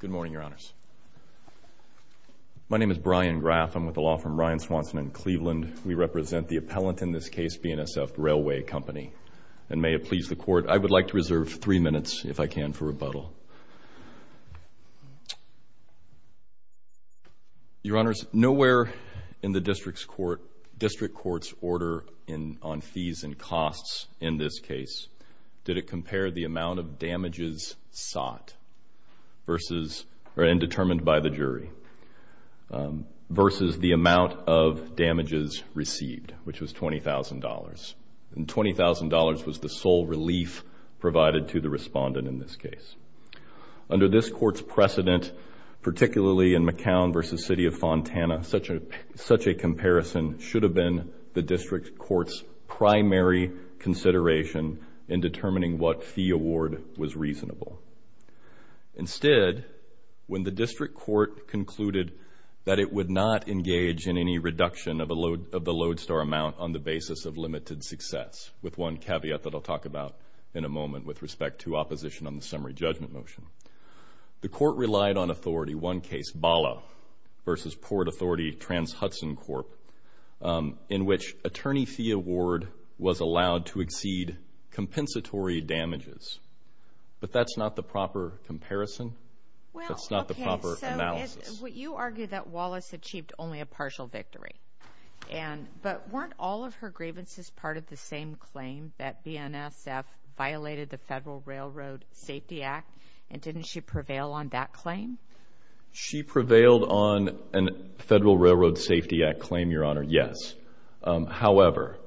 Good morning, Your Honors. My name is Brian Graff. I'm with the law firm Ryan Swanson in Cleveland. We represent the appellant in this case, BNSF Railway Company. And may it please the Court, I would like to reserve three minutes, if I can, for rebuttal. Your Honors, nowhere in the District Court's order on fees and costs in this case did it compare the amount of damages sought and determined by the jury versus the amount of damages received, which was $20,000. And $20,000 was the sole relief provided to the respondent in this case. Under this Court's precedent, particularly in McCown v. City of Fontana, such a comparison should have been the District Court's primary consideration in determining what fee award was reasonable. Instead, when the District Court concluded that it would not engage in any reduction of the lodestar amount on the basis of limited success, with one caveat that I'll talk about in a moment with respect to opposition on the summary judgment motion, the Court relied on authority. One case, Bala v. Port Authority Trans-Hudson Corp., in which attorney fee award was allowed to exceed compensatory damages. But that's not the proper comparison. That's not the proper analysis. You argue that Wallace achieved only a partial victory. But weren't all of her grievances part of the same claim that BNSF violated under the Federal Railroad Safety Act, and didn't she prevail on that claim? She prevailed on a Federal Railroad Safety Act claim, Your Honor, yes. However,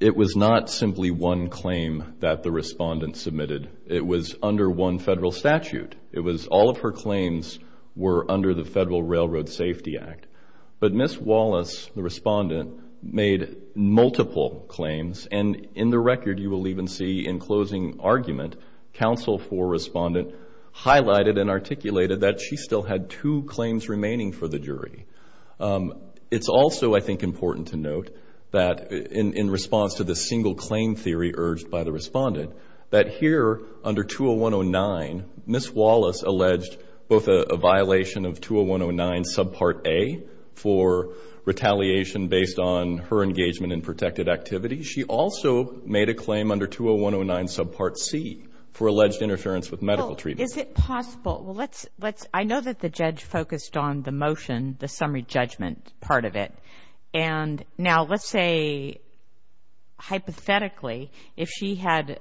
it was not simply one claim that the respondent submitted. It was under one federal statute. All of her claims were under the Federal Railroad Safety Act. But Ms. Wallace, the respondent, made multiple claims. And in the record, you will even see in closing argument, counsel for respondent highlighted and articulated that she still had two claims remaining for the jury. It's also, I think, important to note that in response to the single claim theory urged by the respondent, that here under 20109, Ms. Wallace alleged both a violation of 20109 subpart A for retaliation based on her engagement in protected activity. She also made a claim under 20109 subpart C for alleged interference with medical treatment. Well, is it possible? Well, let's, I know that the judge focused on the motion, the summary judgment part of it. And now let's say, hypothetically, if she had,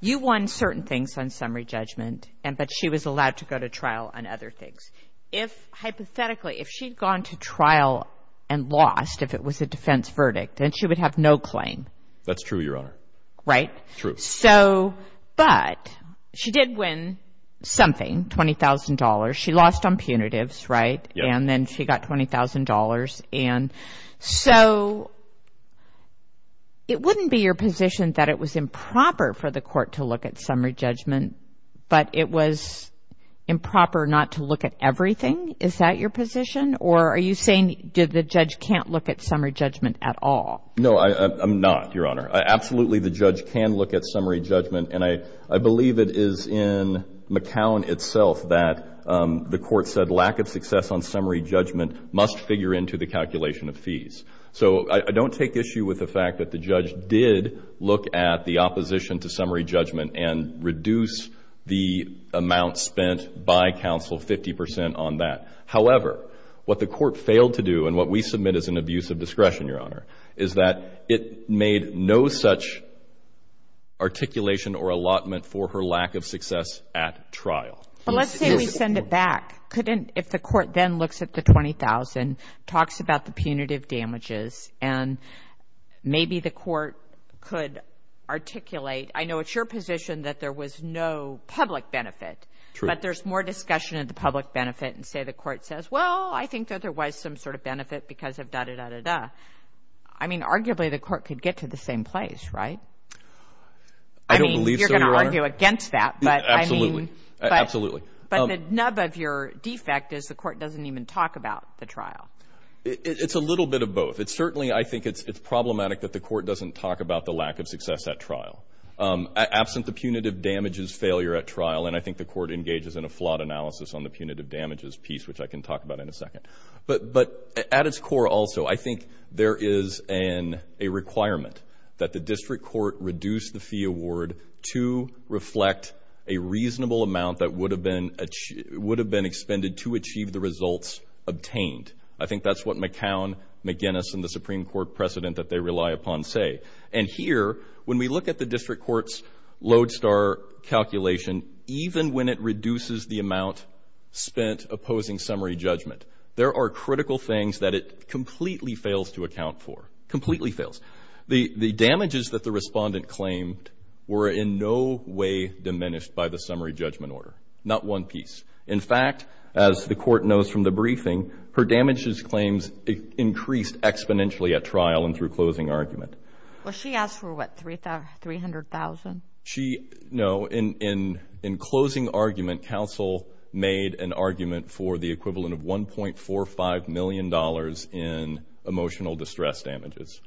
you won certain things on summary judgment, but she was allowed to go to trial on other things. If, hypothetically, if she'd gone to trial and lost, if it was a defense verdict, then she would have no claim. That's true, Your Honor. Right? True. So, but she did win something, $20,000. She lost on punitives, right? Yeah. And then she got $20,000. And so it wouldn't be your position that it was improper for the court to look at summary judgment, but it was improper not to look at everything? Is that your position? Or are you saying the judge can't look at summary judgment at all? No, I'm not, Your Honor. Absolutely, the judge can look at summary judgment. And I believe it is in McCown itself that the court said lack of success on summary judgment must figure into the calculation of fees. So I don't take issue with the fact that the judge did look at the opposition to summary judgment and reduce the amount spent by counsel 50 percent on that. However, what the court failed to do and what we submit as an abuse of discretion, Your Honor, is that it made no such articulation or allotment for her lack of success at trial. But let's say we send it back. If the court then looks at the $20,000, talks about the punitive damages, and maybe the court could articulate. I know it's your position that there was no public benefit. True. But there's more discussion of the public benefit and say the court says, well, I think that there was some sort of benefit because of da-da-da-da-da. I mean, arguably the court could get to the same place, right? I don't believe so, Your Honor. I mean, you're going to argue against that. Absolutely. Absolutely. But the nub of your defect is the court doesn't even talk about the trial. It's a little bit of both. It's certainly I think it's problematic that the court doesn't talk about the lack of success at trial. Absent the punitive damages failure at trial, and I think the court engages in a flawed analysis on the punitive damages piece, which I can talk about in a second. But at its core also, I think there is a requirement that the district court reduce the fee award to reflect a reasonable amount that would have been expended to achieve the results obtained. I think that's what McCown, McGinnis, and the Supreme Court precedent that they rely upon say. And here, when we look at the district court's Lodestar calculation, even when it reduces the amount spent opposing summary judgment, there are critical things that it completely fails to account for, completely fails. The damages that the respondent claimed were in no way diminished by the summary judgment order, not one piece. In fact, as the court knows from the briefing, her damages claims increased exponentially at trial and through closing argument. Well, she asked for what, $300,000? No. In closing argument, counsel made an argument for the equivalent of $1.45 million in emotional distress damages.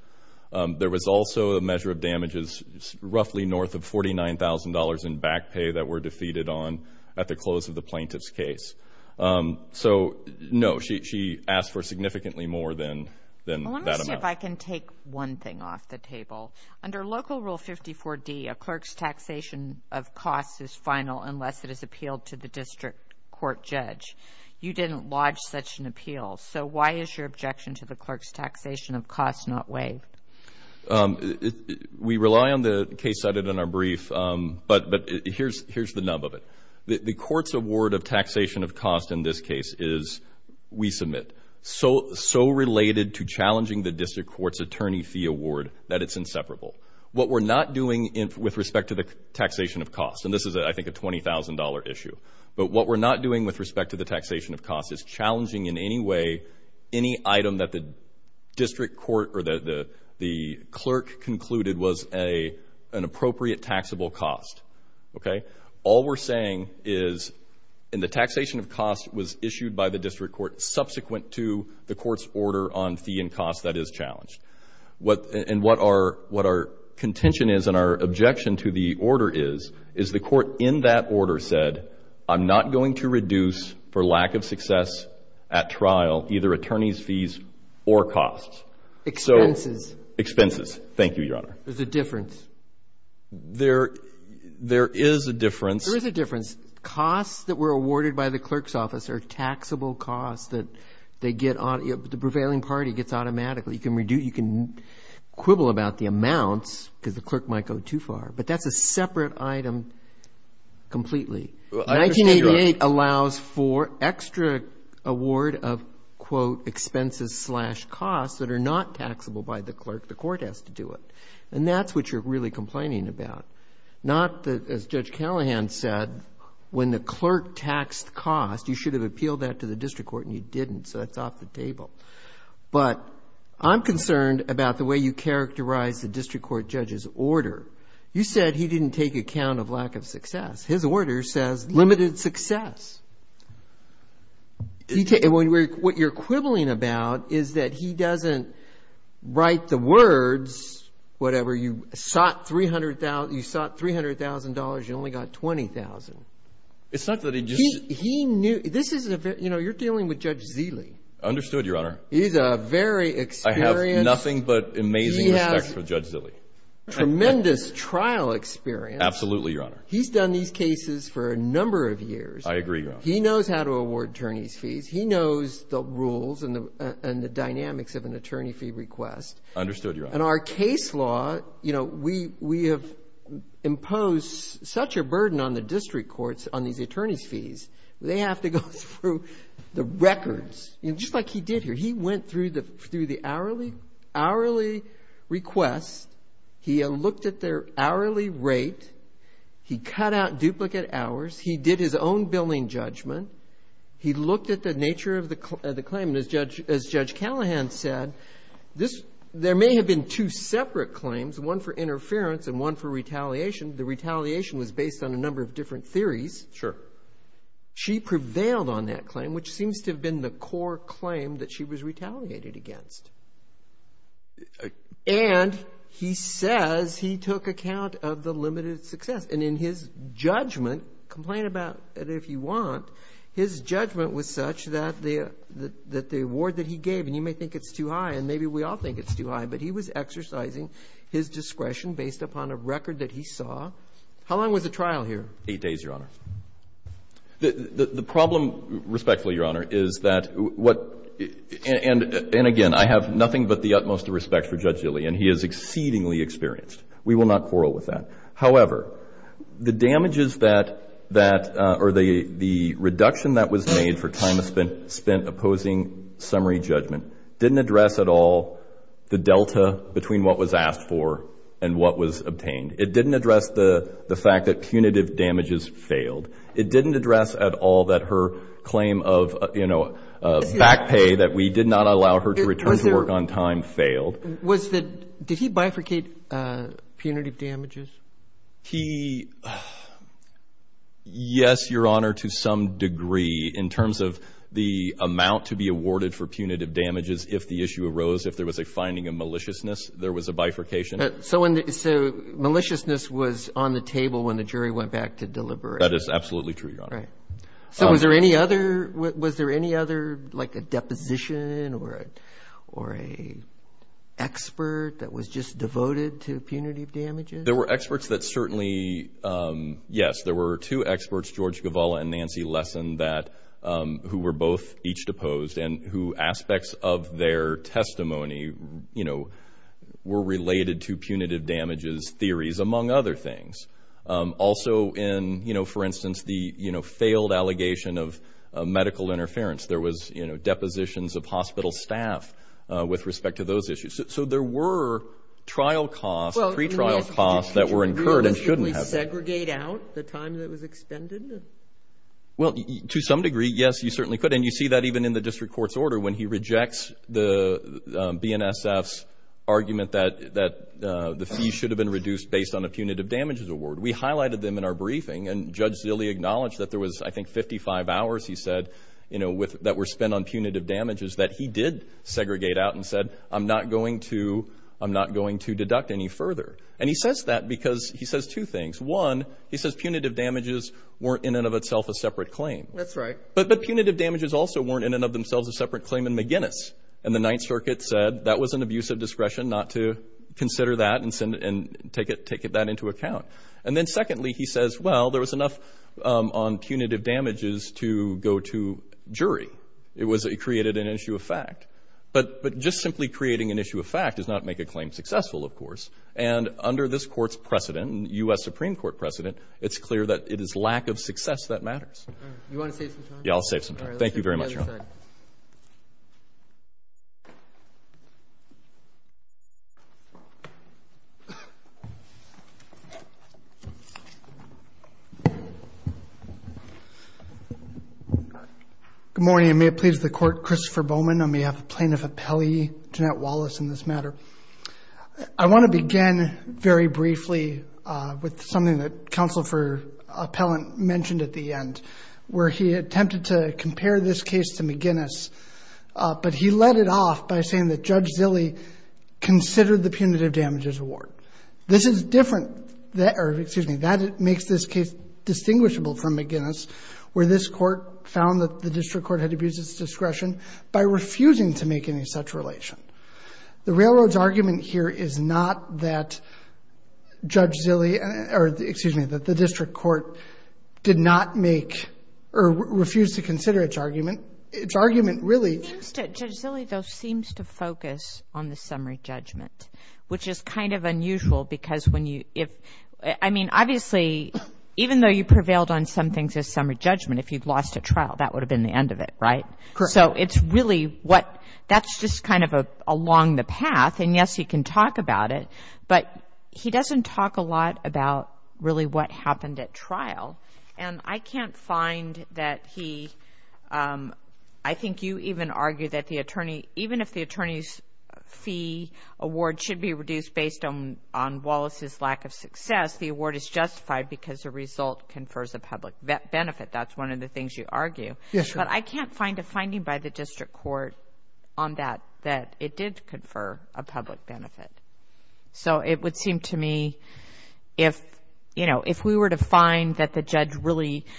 There was also a measure of damages roughly north of $49,000 in back pay that were defeated on at the close of the plaintiff's case. So, no, she asked for significantly more than that amount. Let me see if I can take one thing off the table. Under Local Rule 54D, a clerk's taxation of costs is final unless it is appealed to the district court judge. You didn't lodge such an appeal. So why is your objection to the clerk's taxation of costs not waived? We rely on the case cited in our brief, but here's the nub of it. The court's award of taxation of costs in this case is, we submit, so related to challenging the district court's attorney fee award that it's inseparable. What we're not doing with respect to the taxation of costs, and this is, I think, a $20,000 issue, but what we're not doing with respect to the taxation of costs is challenging in any way any item that the district court or the clerk concluded was an appropriate taxable cost. Okay? All we're saying is, and the taxation of costs was issued by the district court subsequent to the court's order on fee and cost. That is challenged. And what our contention is and our objection to the order is, is the court in that order said, I'm not going to reduce for lack of success at trial either attorney's fees or costs. Expenses. Expenses. Thank you, Your Honor. There's a difference. There is a difference. There is a difference. Costs that were awarded by the clerk's office are taxable costs that they get on, the prevailing party gets automatically. You can quibble about the amounts because the clerk might go too far, but that's a separate item completely. 1988 allows for extra award of, quote, expenses slash costs that are not taxable by the clerk. The court has to do it. And that's what you're really complaining about. Not, as Judge Callahan said, when the clerk taxed costs, you should have appealed that to the district court, but I'm concerned about the way you characterize the district court judge's order. You said he didn't take account of lack of success. His order says limited success. What you're quibbling about is that he doesn't write the words, whatever, you sought $300,000, you only got $20,000. It's not that he just ---- He knew, this is, you know, you're dealing with Judge Zeeley. Understood, Your Honor. He's a very experienced ---- I have nothing but amazing respect for Judge Zeeley. He has tremendous trial experience. Absolutely, Your Honor. He's done these cases for a number of years. I agree, Your Honor. He knows how to award attorney's fees. He knows the rules and the dynamics of an attorney fee request. Understood, Your Honor. And our case law, you know, we have imposed such a burden on the district courts on these attorney's fees, they have to go through the records. You know, just like he did here. He went through the hourly request. He looked at their hourly rate. He cut out duplicate hours. He did his own billing judgment. He looked at the nature of the claim. And as Judge Callahan said, this ---- there may have been two separate claims, one for interference and one for retaliation. The retaliation was based on a number of different theories. Sure. She prevailed on that claim, which seems to have been the core claim that she was retaliated against. And he says he took account of the limited success. And in his judgment, complain about it if you want, his judgment was such that the award that he gave, and you may think it's too high and maybe we all think it's too high, but he was exercising his discretion based upon a record that he saw. How long was the trial here? Eight days, Your Honor. The problem, respectfully, Your Honor, is that what ---- and again, I have nothing but the utmost respect for Judge Gilley, and he is exceedingly experienced. We will not quarrel with that. However, the damages that ---- or the reduction that was made for time spent opposing summary judgment didn't address at all the delta between what was asked for and what was obtained. It didn't address the fact that punitive damages failed. It didn't address at all that her claim of, you know, back pay that we did not allow her to return to work on time failed. Was there ---- did he bifurcate punitive damages? He ---- yes, Your Honor, to some degree, in terms of the amount to be awarded for punitive damages if the issue arose, if there was a finding of maliciousness, there was a bifurcation. So maliciousness was on the table when the jury went back to deliberate. That is absolutely true, Your Honor. Right. So was there any other like a deposition or an expert that was just devoted to punitive damages? There were experts that certainly ---- yes, there were two experts, George Gavala and Nancy Lessen, that ---- who were both each deposed and who aspects of their testimony, you know, were related to punitive damages theories, among other things. Also in, you know, for instance, the, you know, failed allegation of medical interference, there was, you know, depositions of hospital staff with respect to those issues. So there were trial costs, pre-trial costs that were incurred and shouldn't have been. Could you realistically segregate out the time that was expended? Well, to some degree, yes, you certainly could. And you see that even in the district court's order when he rejects the BNSF's argument that the fee should have been reduced based on a punitive damages award. We highlighted them in our briefing, and Judge Zille acknowledged that there was, I think, 55 hours, he said, you know, that were spent on punitive damages that he did segregate out and said, I'm not going to deduct any further. And he says that because he says two things. One, he says punitive damages weren't in and of itself a separate claim. That's right. But punitive damages also weren't in and of themselves a separate claim in McGinnis. And the Ninth Circuit said that was an abuse of discretion not to consider that and take that into account. And then secondly, he says, well, there was enough on punitive damages to go to jury. It created an issue of fact. But just simply creating an issue of fact does not make a claim successful, of course. And under this court's precedent, U.S. Supreme Court precedent, it's clear that it is lack of success that matters. All right. You want to save some time? Yeah, I'll save some time. Thank you very much, Your Honor. Good morning, and may it please the Court, Christopher Bowman, on behalf of Plaintiff Appellee Jeanette Wallace in this matter. I want to begin very briefly with something that Counsel for Appellant mentioned at the end, where he attempted to compare this case to McGinnis, but he led it off by saying that Judge Zille considered the punitive damages award. This is different or, excuse me, that makes this case distinguishable from McGinnis, where this court found that the district court had abused its discretion by refusing to make any such relation. The Railroad's argument here is not that Judge Zille or, excuse me, that the district court did not make or refused to consider its argument. Its argument really – Judge Zille, though, seems to focus on the summary judgment, which is kind of unusual because when you – I mean, obviously, even though you prevailed on some things as summary judgment, if you'd lost a trial, that would have been the end of it, right? Correct. So it's really what – that's just kind of along the path. And, yes, he can talk about it, but he doesn't talk a lot about really what happened at trial. And I can't find that he – I think you even argue that the attorney – even if the attorney's fee award should be reduced based on Wallace's lack of success, the award is justified because the result confers a public benefit. That's one of the things you argue. Yes, ma'am. But I can't find a finding by the district court on that, that it did confer a public benefit. So it would seem to me if, you know, if we were to find that the judge really –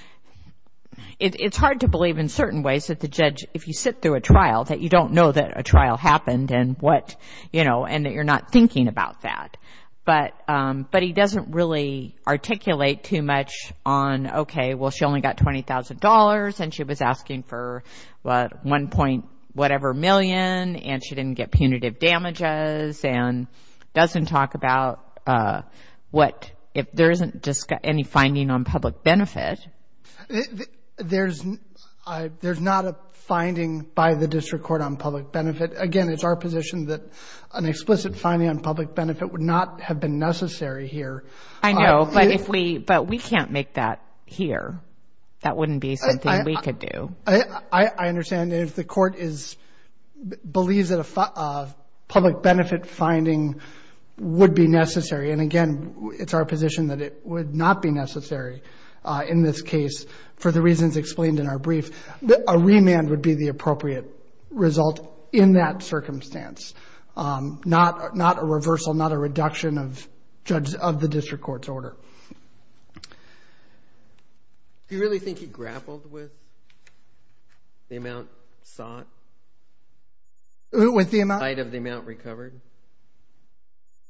it's hard to believe in certain ways that the judge, if you sit through a trial, that you don't know that a trial happened and what, you know, and that you're not thinking about that. But he doesn't really articulate too much on, okay, well, she only got $20,000 and she was asking for 1 point whatever million and she didn't get punitive damages and doesn't talk about what – if there isn't any finding on public benefit. There's not a finding by the district court on public benefit. Again, it's our position that an explicit finding on public benefit would not have been necessary here. I know, but if we – but we can't make that here. That wouldn't be something we could do. I understand. If the court is – believes that a public benefit finding would be necessary, and again, it's our position that it would not be necessary in this case for the reasons explained in our brief, a remand would be the appropriate result in that circumstance, not a reversal, not a reduction of the district court's order. Do you really think he grappled with the amount sought? With the amount? In light of the amount recovered?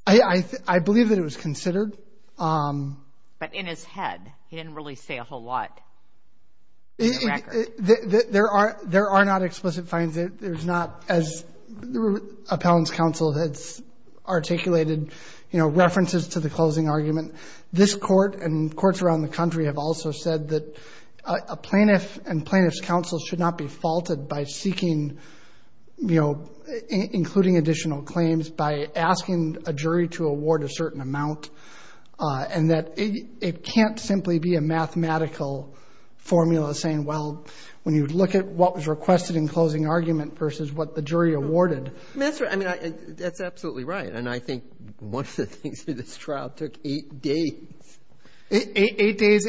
I believe that it was considered. But in his head, he didn't really say a whole lot in the record. There are not explicit findings. There's not, as Appellant's counsel has articulated, you know, references to the closing argument. This court and courts around the country have also said that a plaintiff and plaintiff's counsel should not be faulted by seeking, you know, including additional claims, by asking a jury to award a certain amount, and that it can't simply be a mathematical formula saying, well, when you look at what was requested in closing argument versus what the jury awarded. That's right. I mean, that's absolutely right, and I think one of the things through this trial took eight days. Eight days.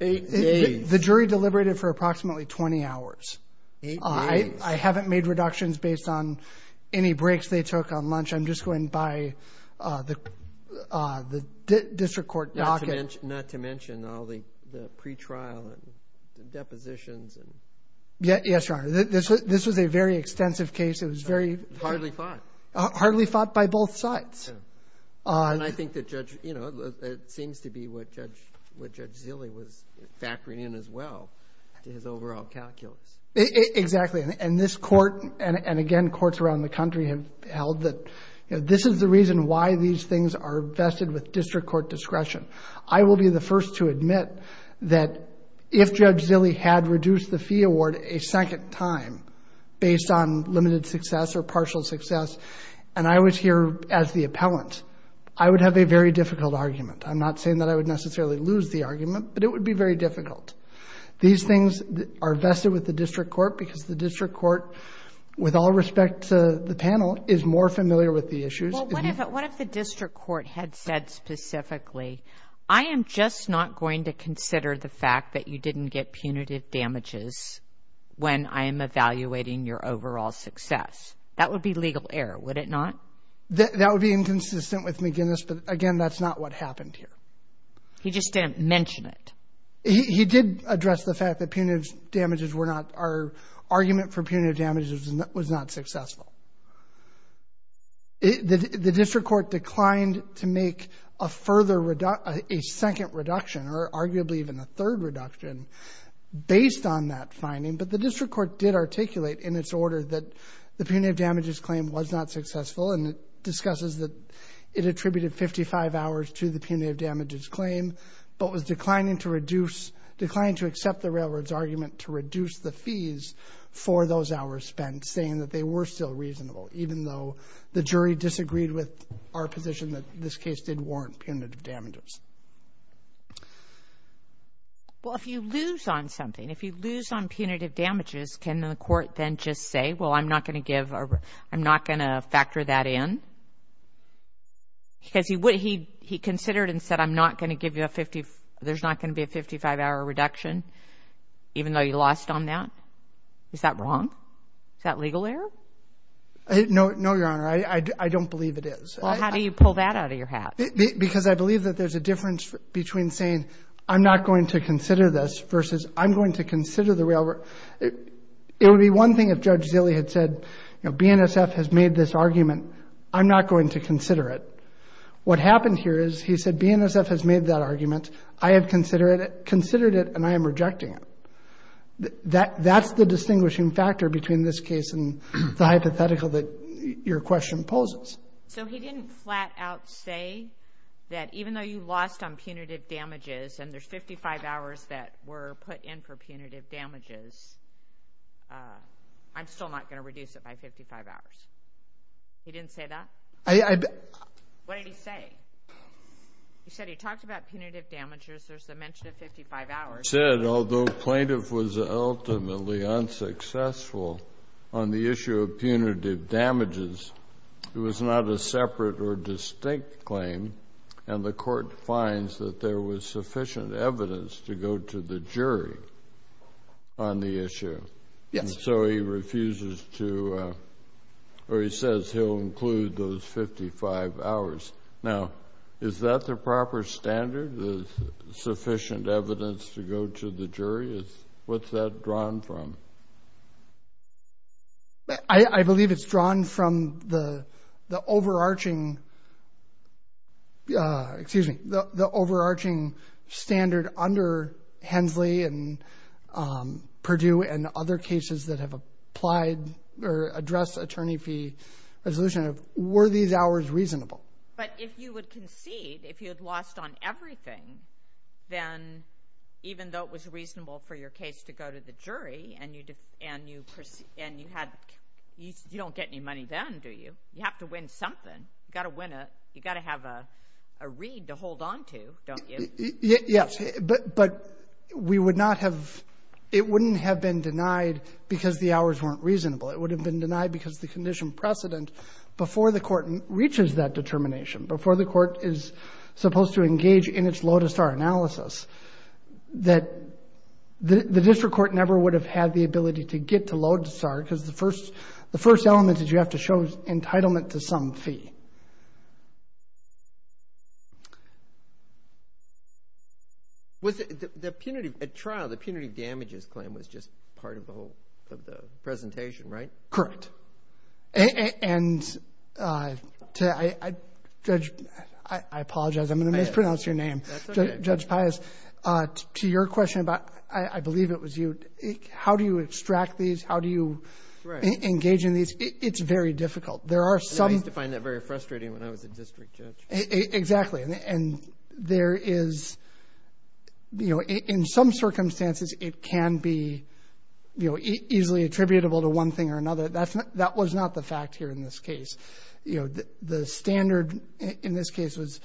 Eight days. The jury deliberated for approximately 20 hours. Eight days. I haven't made reductions based on any breaks they took on lunch. I'm just going by the district court docket. Not to mention all the pretrial and depositions. Yes, Your Honor. This was a very extensive case. It was very hard. Hardly fought. Hardly fought by both sides. I think that Judge, you know, it seems to be what Judge Zille was factoring in as well to his overall calculus. Exactly, and this court, and again, courts around the country have held that, you know, this is the reason why these things are vested with district court discretion. I will be the first to admit that if Judge Zille had reduced the fee award a second time, based on limited success or partial success, and I was here as the appellant, I would have a very difficult argument. I'm not saying that I would necessarily lose the argument, but it would be very difficult. These things are vested with the district court because the district court, with all respect to the panel, is more familiar with the issues. Well, what if the district court had said specifically, I am just not going to consider the fact that you didn't get punitive damages when I am evaluating your overall success? That would be legal error, would it not? That would be inconsistent with McGinnis, but, again, that's not what happened here. He just didn't mention it. He did address the fact that argument for punitive damages was not successful. The district court declined to make a second reduction or arguably even a third reduction based on that finding, but the district court did articulate in its order that the punitive damages claim was not successful, and it discusses that it attributed 55 hours to the punitive damages claim but was declining to accept the railroad's argument to reduce the fees for those hours spent, saying that they were still reasonable, even though the jury disagreed with our position that this case did warrant punitive damages. Well, if you lose on something, if you lose on punitive damages, can the court then just say, well, I'm not going to factor that in? Because he considered and said I'm not going to give you a 50, there's not going to be a 55-hour reduction even though you lost on that. Is that wrong? Is that legal error? No, Your Honor. I don't believe it is. Well, how do you pull that out of your hat? Because I believe that there's a difference between saying I'm not going to consider this versus I'm going to consider the railroad. It would be one thing if Judge Zille had said, you know, BNSF has made this argument. I'm not going to consider it. What happened here is he said BNSF has made that argument. I have considered it and I am rejecting it. That's the distinguishing factor between this case and the hypothetical that your question poses. So he didn't flat out say that even though you lost on punitive damages and there's 55 hours that were put in for punitive damages, I'm still not going to reduce it by 55 hours. He didn't say that? What did he say? He said he talked about punitive damages. There's the mention of 55 hours. He said although plaintiff was ultimately unsuccessful on the issue of punitive damages, it was not a separate or distinct claim, and the court finds that there was sufficient evidence to go to the jury on the issue. Yes. So he refuses to, or he says he'll include those 55 hours. Now, is that the proper standard, sufficient evidence to go to the jury? What's that drawn from? I believe it's drawn from the overarching, excuse me, the overarching standard under Hensley and Purdue and other cases that have applied or addressed attorney fee resolution. Were these hours reasonable? But if you would concede, if you had lost on everything, then even though it was reasonable for your case to go to the jury and you don't get any money then, do you? You have to win something. You've got to win a, you've got to have a read to hold on to, don't you? Yes. But we would not have, it wouldn't have been denied because the hours weren't reasonable. It would have been denied because the condition precedent before the court reaches that determination, before the court is supposed to engage in its Lodestar analysis, that the district court never would have had the ability to get to Lodestar because the first element is you have to show entitlement to some fee. The punitive, at trial, the punitive damages claim was just part of the presentation, right? Correct. And Judge, I apologize, I'm going to mispronounce your name. That's okay. Judge Pius, to your question about, I believe it was you, how do you extract these, how do you engage in these, it's very difficult. I used to find that very frustrating when I was a district judge. Exactly. And there is, in some circumstances it can be easily attributable to one thing or another. That was not the fact here in this case. The standard in this case was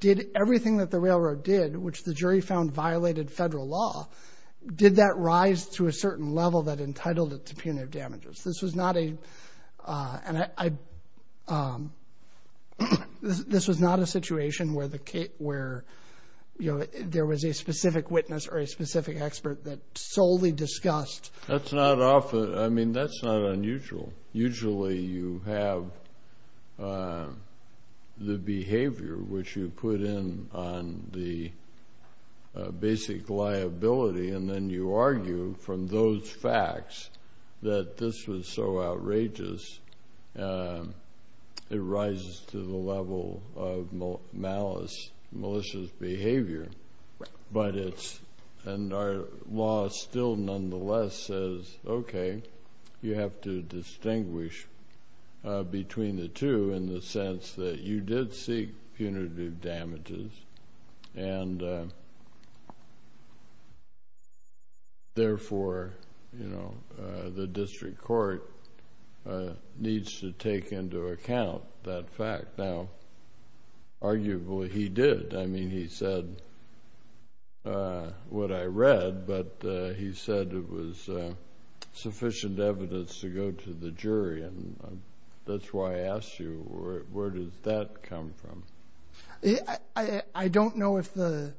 did everything that the railroad did, which the jury found violated federal law, did that rise to a certain level that entitled it to punitive damages? This was not a situation where there was a specific witness or a specific expert that solely discussed. That's not often, I mean, that's not unusual. Usually you have the behavior which you put in on the basic liability and then you argue from those facts that this was so outrageous it rises to the level of malice, malicious behavior. But it's, and our law still nonetheless says, okay, you have to distinguish between the two in the sense that you did seek punitive damages and therefore, you know, the district court needs to take into account that fact. Now, arguably he did. I mean, he said what I read, but he said it was sufficient evidence to go to the jury. And that's why I asked you, where does that come from? I don't know if the,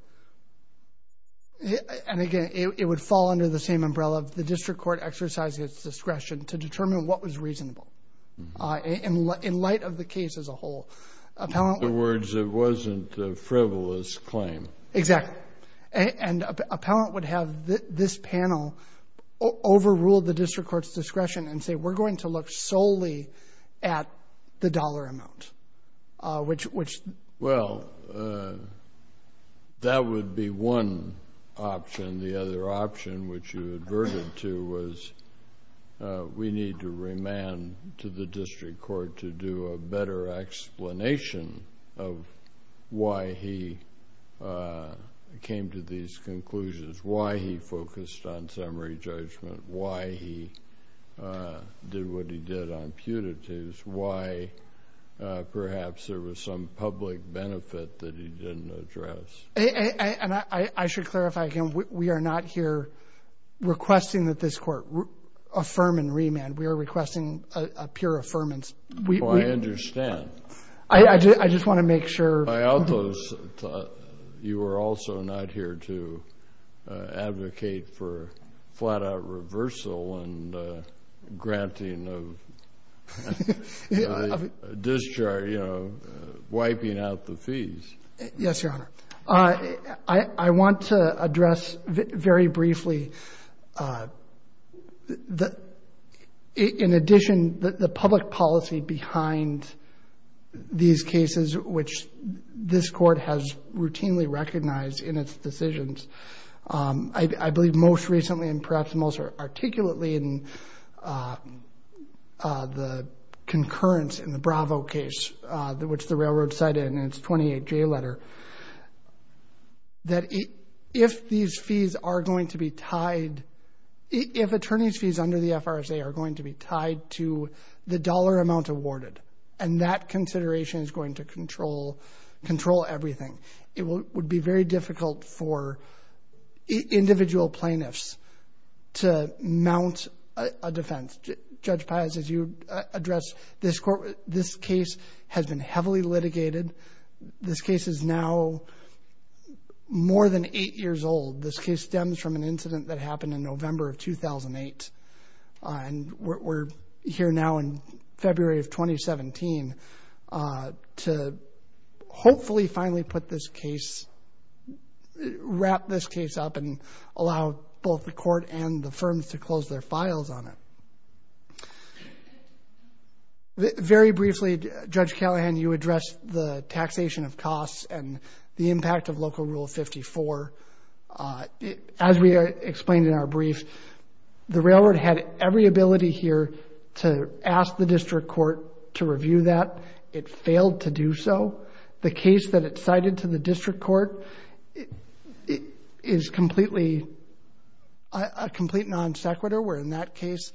and again, it would fall under the same umbrella. The district court exercised its discretion to determine what was reasonable. In light of the case as a whole. In other words, it wasn't a frivolous claim. Exactly. And appellant would have this panel overrule the district court's discretion and say we're going to look solely at the dollar amount, which. Well, that would be one option. And the other option, which you adverted to, was we need to remand to the district court to do a better explanation of why he came to these conclusions, why he focused on summary judgment, why he did what he did on putatives, why perhaps there was some public benefit that he didn't address. And I should clarify again, we are not here requesting that this court affirm and remand. We are requesting a pure affirmance. Oh, I understand. I just want to make sure. By all those, you are also not here to advocate for flat-out reversal and granting of discharge, you know, wiping out the fees. Yes, Your Honor. I want to address very briefly, in addition, the public policy behind these cases, which this court has routinely recognized in its decisions. I believe most recently and perhaps most articulately in the concurrence in the Bravo case, which the railroad cited in its 28-J letter, that if these fees are going to be tied, if attorney's fees under the FRSA are going to be tied to the dollar amount awarded and that consideration is going to control everything, it would be very difficult for individual plaintiffs to mount a defense. Judge Pius, as you addressed, this case has been heavily litigated. This case is now more than eight years old. This case stems from an incident that happened in November of 2008. We're here now in February of 2017 to hopefully finally put this case, wrap this case up and allow both the court and the firms to close their files on it. Very briefly, Judge Callahan, you addressed the taxation of costs and the impact of Local Rule 54. As we explained in our brief, the railroad had every ability here to ask the district court to review that. It failed to do so. The case that it cited to the district court is completely a complete non sequitur, where in that case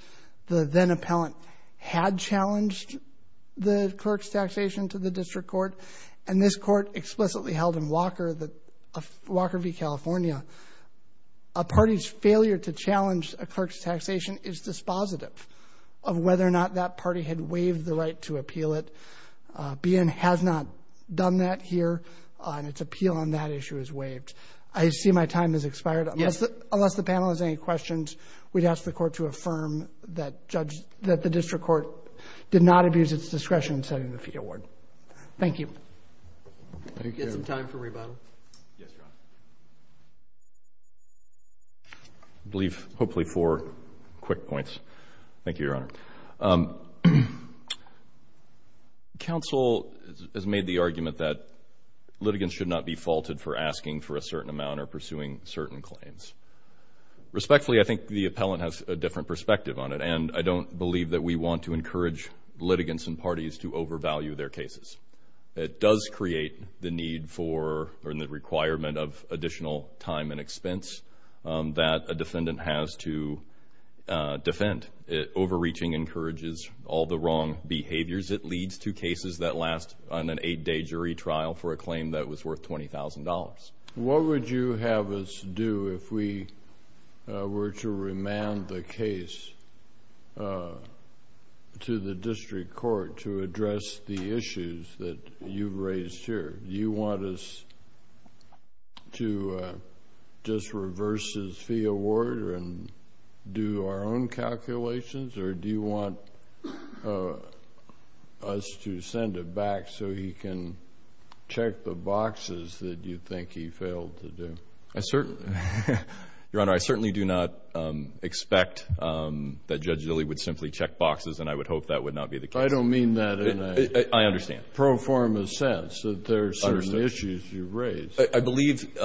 the then-appellant had challenged the clerk's taxation to the district court, and this court explicitly held in Walker v. California a party's failure to challenge a clerk's taxation is dispositive of whether or not that party had waived the right to appeal it, but BN has not done that here, and its appeal on that issue is waived. I see my time has expired. Unless the panel has any questions, we'd ask the court to affirm that the district court did not abuse its discretion in setting the fee award. Thank you. Thank you. Get some time for rebuttal. Yes, Your Honor. I believe hopefully four quick points. Thank you, Your Honor. Counsel has made the argument that litigants should not be faulted for asking for a certain amount or pursuing certain claims. Respectfully, I think the appellant has a different perspective on it, and I don't believe that we want to encourage litigants and parties to overvalue their cases. It does create the need for or the requirement of additional time and expense that a defendant has to defend. Overreaching encourages all the wrong behaviors. It leads to cases that last on an eight-day jury trial for a claim that was worth $20,000. What would you have us do if we were to remand the case to the district court to address the issues that you've raised here? Do you want us to just reverse his fee award and do our own calculations, or do you want us to send it back so he can check the boxes that you think he failed to do? Your Honor, I certainly do not expect that Judge Zille would simply check boxes, and I would hope that would not be the case. I don't mean that in a pro forma sense. There are certain issues you've raised. I believe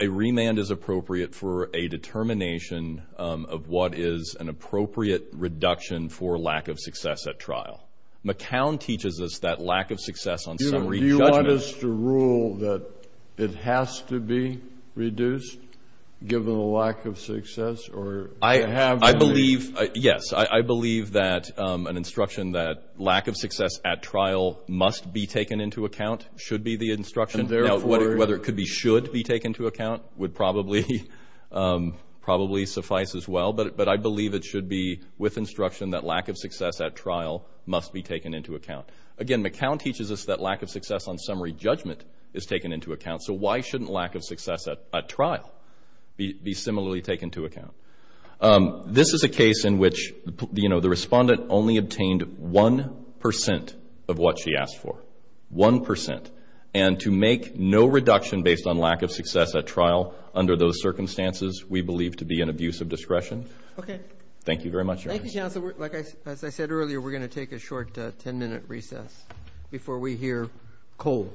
a remand is appropriate for a determination of what is an appropriate reduction for lack of success at trial. McCown teaches us that lack of success on summary judgment. Do you want us to rule that it has to be reduced, given the lack of success? Yes, I believe that an instruction that lack of success at trial must be taken into account should be the instruction. Now, whether it could be should be taken into account would probably suffice as well, but I believe it should be with instruction that lack of success at trial must be taken into account. Again, McCown teaches us that lack of success on summary judgment is taken into account, so why shouldn't lack of success at trial be similarly taken into account? This is a case in which, you know, the respondent only obtained 1% of what she asked for, 1%, and to make no reduction based on lack of success at trial under those circumstances we believe to be an abuse of discretion. Thank you very much, Your Honor. Thank you, counsel. As I said earlier, we're going to take a short 10-minute recess before we hear Cole.